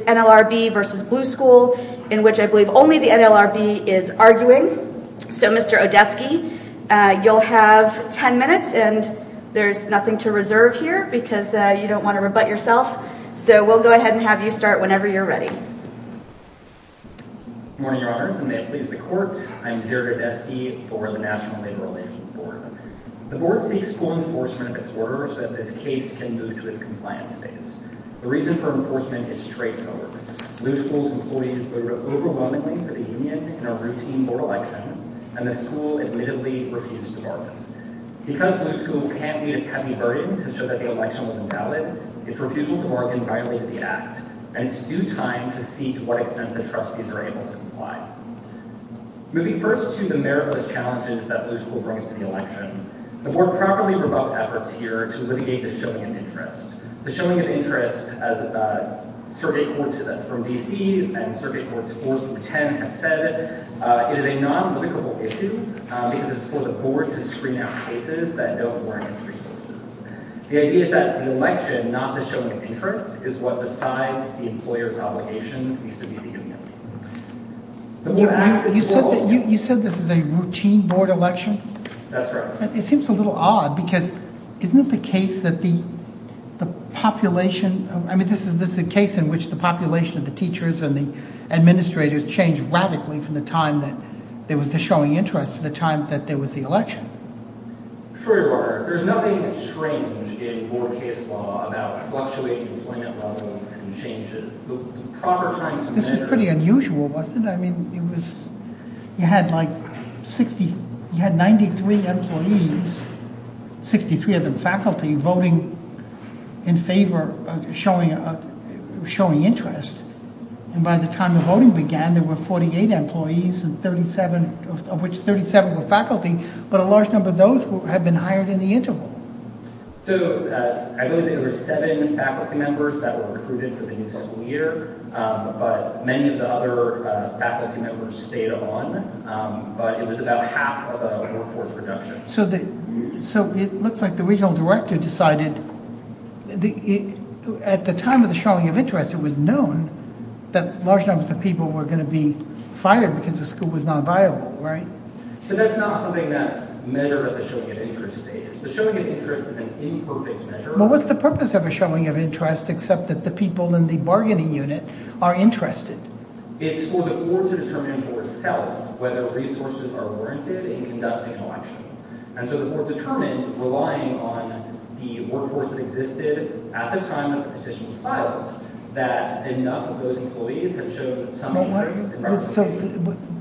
NLRB v. Blue School Good morning, Your Honors, and may it please the Court, I'm Jared Odeski for the National Labor Relations Board. The Board seeks full enforcement of its orders so that this case can move to its compliance phase. The reason for enforcement is straightforward. Blue School's employees voted overwhelmingly for the union in a routine board election, and the School admittedly refused to bargain. Because Blue School can't meet its heavy burden to show that the election was invalid, its refusal to bargain violated the Act, and it's due time to see to what extent the Trustees are able to comply. Moving first to the meritless challenges that Blue School brings to the election, the Board properly revoked efforts here to litigate the showing of interest. The showing of interest, as the Circuit Courts from D.C. and Circuit Courts 4 through 10 have said, it is a non-litigable issue because it's for the Board to screen out cases that don't warrant its resources. The idea is that the election, not the showing of interest, is what decides the employer's obligations vis-à-vis the union. You said this is a routine board election? That's right. It seems a little odd because isn't it the case that the population, I mean this is the case in which the population of the teachers and the administrators changed radically from the time that there was the showing interest to the time that there was the election. Troy Barger, there's nothing strange in Board case law about fluctuating employment levels and changes. The proper time to measure... This was pretty unusual, wasn't it? I mean, it was, you had like 60, you had 93 employees, 63 of them faculty, voting in favor of showing interest. And by the time the voting began, there were 48 employees and 37, of which 37 were faculty, but a large number of those had been hired in the interval. So I believe there were seven faculty members that were recruited for the new school year, but many of the other faculty members stayed on, but it was about half of the workforce reduction. So it looks like the regional director decided, at the time of the showing of interest, it was known that large numbers of people were going to be fired because the school was non-viable, right? So that's not something that's measured at the showing of interest stage. The showing of interest is an imperfect measure. Well, what's the purpose of a showing of interest, except that the people in the bargaining unit are interested? It's for the board to determine for itself whether resources are warranted in conducting an election. And so the board determined, relying on the workforce that existed at the time that the position was filed, that enough of those employees had shown some interest. So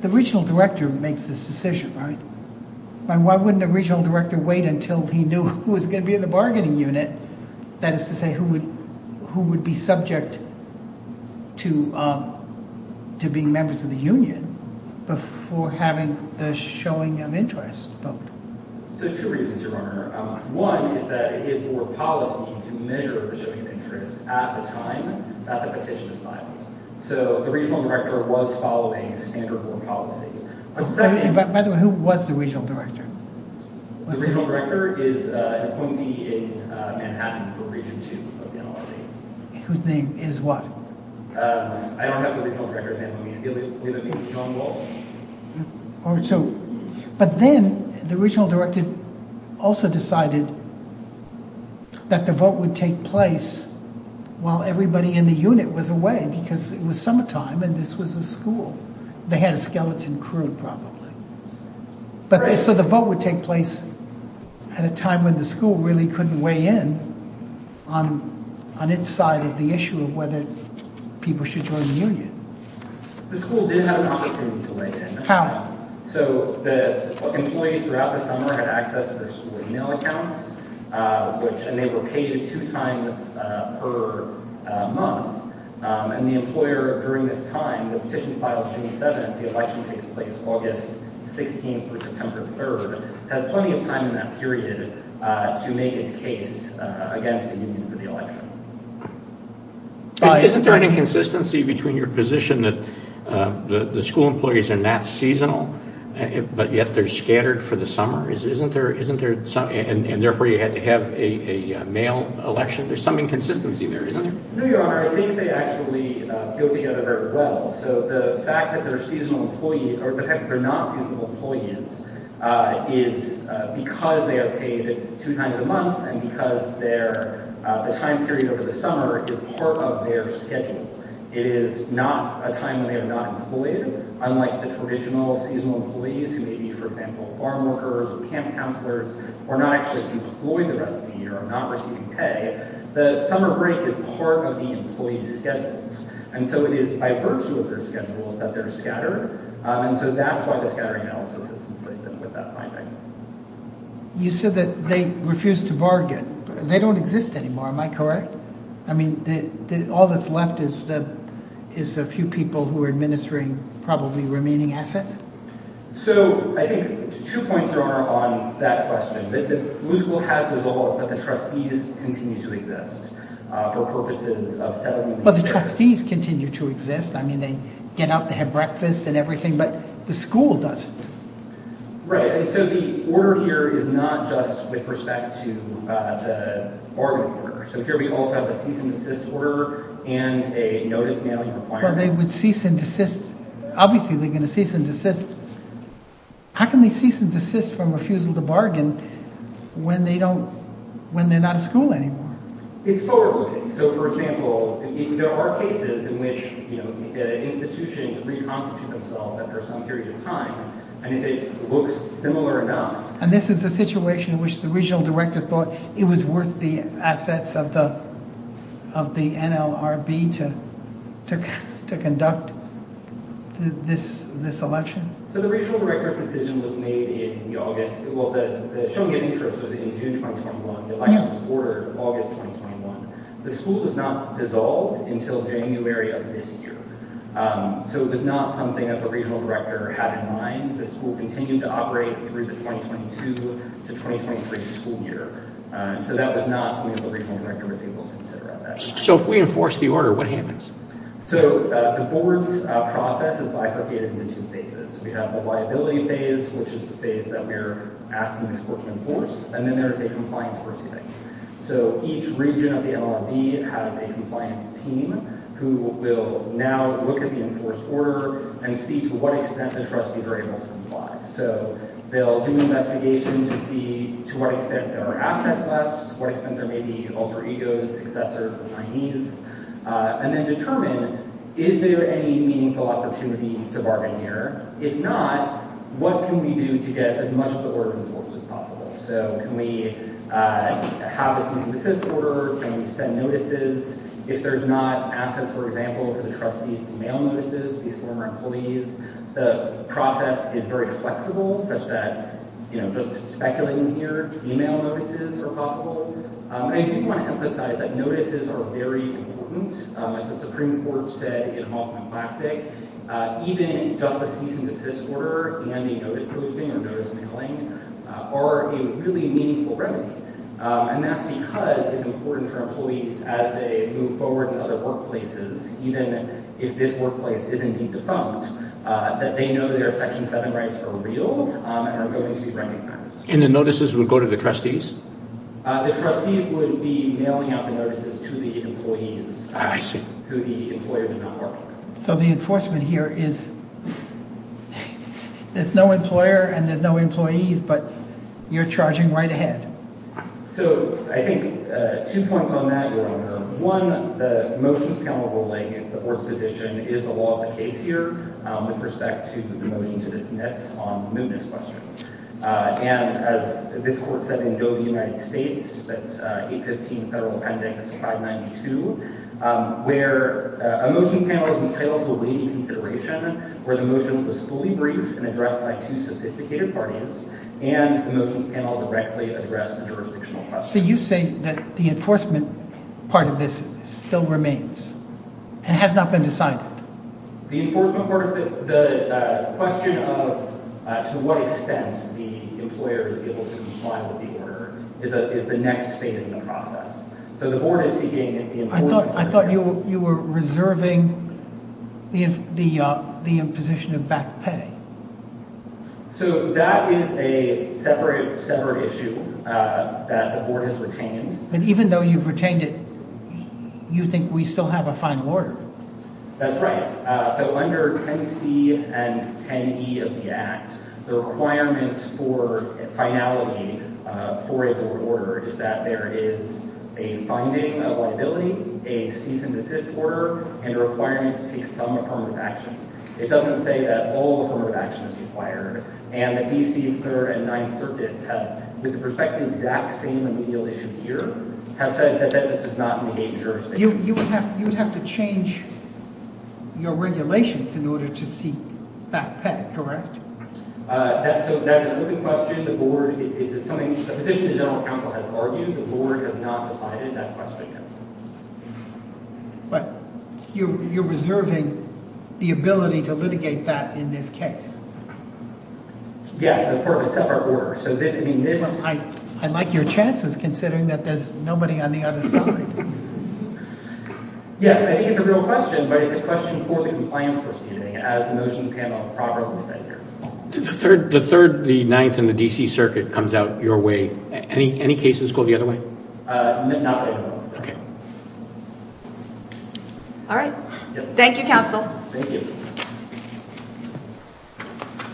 the regional director makes this decision, right? Why wouldn't a regional director wait until he knew who was going to be in the bargaining unit, that is to say, who would be subject to being members of the union, before having the showing of interest vote? So two reasons, Your Honor. One is that it is for policy to measure the showing of interest at the time that the petition was filed. So the regional director was following standard board policy. By the way, who was the regional director? The regional director is an appointee in Manhattan for Region 2 of the NLRB. Whose name is what? I don't have the regional director's name on me. Do you have a name? John Walsh? But then the regional director also decided that the vote would take place while everybody in the unit was away, because it was summertime and this was a school. They had a skeleton crew, probably. So the vote would take place at a time when the school really couldn't weigh in on its side of the issue of whether people should join the union. The school did have an opportunity to weigh in. So the employees throughout the summer had access to their school email accounts, and they were paid two times per month. And the employer, during this time, the petition filed June 7th, the election takes place August 16th through September 3rd, has plenty of time in that period to make its case against the union for the election. Isn't there an inconsistency between your position that the school employees are not seasonal, but yet they're scattered for the summer, and therefore you had to have a mail election? There's some inconsistency there, isn't there? No, Your Honor, I think they actually go together very well. So the fact that they're seasonal employees, or the fact that they're not seasonal employees, is because they are paid two times a month, and because the time period over the summer is part of their schedule. It is not a time when they are not employed, unlike the traditional seasonal employees, who may be, for example, farm workers or camp counselors, or not actually be employed the rest of the year, or not receiving pay. The summer break is part of the employees' schedules. And so it is by virtue of their schedules that they're scattered. And so that's why the scattering analysis is consistent with that finding. You said that they refused to bargain. They don't exist anymore, am I correct? I mean, all that's left is a few people who are administering probably remaining assets? So, I think two points, Your Honor, on that question. The school has dissolved, but the trustees continue to exist for purposes of settling these matters. Well, the trustees continue to exist. I mean, they get up, they have breakfast and everything, but the school doesn't. Right, and so the order here is not just with respect to the bargaining order. So here we also have a cease and desist order and a notice mailing requirement. Well, they would cease and desist. Obviously, they're going to cease and desist. How can they cease and desist from refusal to bargain when they're not at school anymore? It's forward-looking. So, for example, there are cases in which institutions reconstitute themselves after some period of time. And if it looks similar enough... And this is a situation in which the regional director thought it was worth the assets of the NLRB to conduct this election? So the regional director's decision was made in August. Well, the show and get interest was in June 2021. The election was ordered in August 2021. The school does not dissolve until January of this year. So it was not something that the regional director had in mind. The school continued to operate through the 2022 to 2023 school year. So that was not something the regional director was able to consider at that time. So if we enforce the order, what happens? So the board's process is bifurcated into two phases. We have the liability phase, which is the phase that we're asking the school to enforce. And then there's a compliance proceeding. So each region of the NLRB has a compliance team who will now look at the enforced order and see to what extent the trustees are able to comply. So they'll do an investigation to see to what extent there are assets left, to what extent there may be alter egos, successors, assignees. And then determine, is there any meaningful opportunity to bargain here? If not, what can we do to get as much of the order enforced as possible? So can we have a student assist order? Can we send notices? If there's not assets, for example, for the trustees to mail notices to these former employees, the process is very flexible such that, you know, just speculating here, email notices are possible. I do want to emphasize that notices are very important. As the Supreme Court said in Hoffman Plastic, even just a cease and desist order and a notice posting or notice mailing are a really meaningful remedy. And that's because it's important for employees as they move forward in other workplaces, even if this workplace is indeed defunct, that they know their Section 7 rights are real and are going to be recognized. And the notices would go to the trustees? The trustees would be mailing out the notices to the employees who the employer did not bargain with. So the enforcement here is, there's no employer and there's no employees, but you're charging right ahead. So I think two points on that, Your Honor. One, the motion is counter-ruling. It's the Court's position, is the law of the case here with respect to the motion to dismiss on the mootness question. And as this Court said in Doe v. United States, that's 815 Federal Appendix 592, where a motion panel is entitled to a lady consideration where the motion was fully briefed and addressed by two sophisticated parties and the motion panel directly addressed a jurisdictional question. So you say that the enforcement part of this still remains and has not been decided? The enforcement part of it, the question of to what extent the employer is able to comply with the order is the next phase in the process. So the Board is seeking the enforcement part of it. I thought you were reserving the imposition of back pay. So that is a separate issue that the Board has retained. And even though you've retained it, you think we still have a final order? That's right. So under 10C and 10E of the Act, the requirements for finality for a board order is that there is a finding of liability, a cease and desist order, and a requirement to take some affirmative action. It doesn't say that all affirmative action is required. And the D.C. Third and Ninth Circuits have, with respect to the exact same remedial issue here, have said that that does not negate the jurisdiction. You would have to change your regulations in order to seek back pay, correct? That's a good question. The Board, it's something, the position the General Counsel has argued, the Board has not decided that question yet. But you're reserving the ability to litigate that in this case? Yes, as part of a separate order. I like your chances, considering that there's nobody on the other side. Yes, I think it's a real question, but it's a question for the compliance proceeding, as the motions pan out properly. The Third, the Ninth, and the D.C. Circuit comes out your way. Any cases go the other way? Not right now. Okay. All right. Thank you, Counsel. Thank you.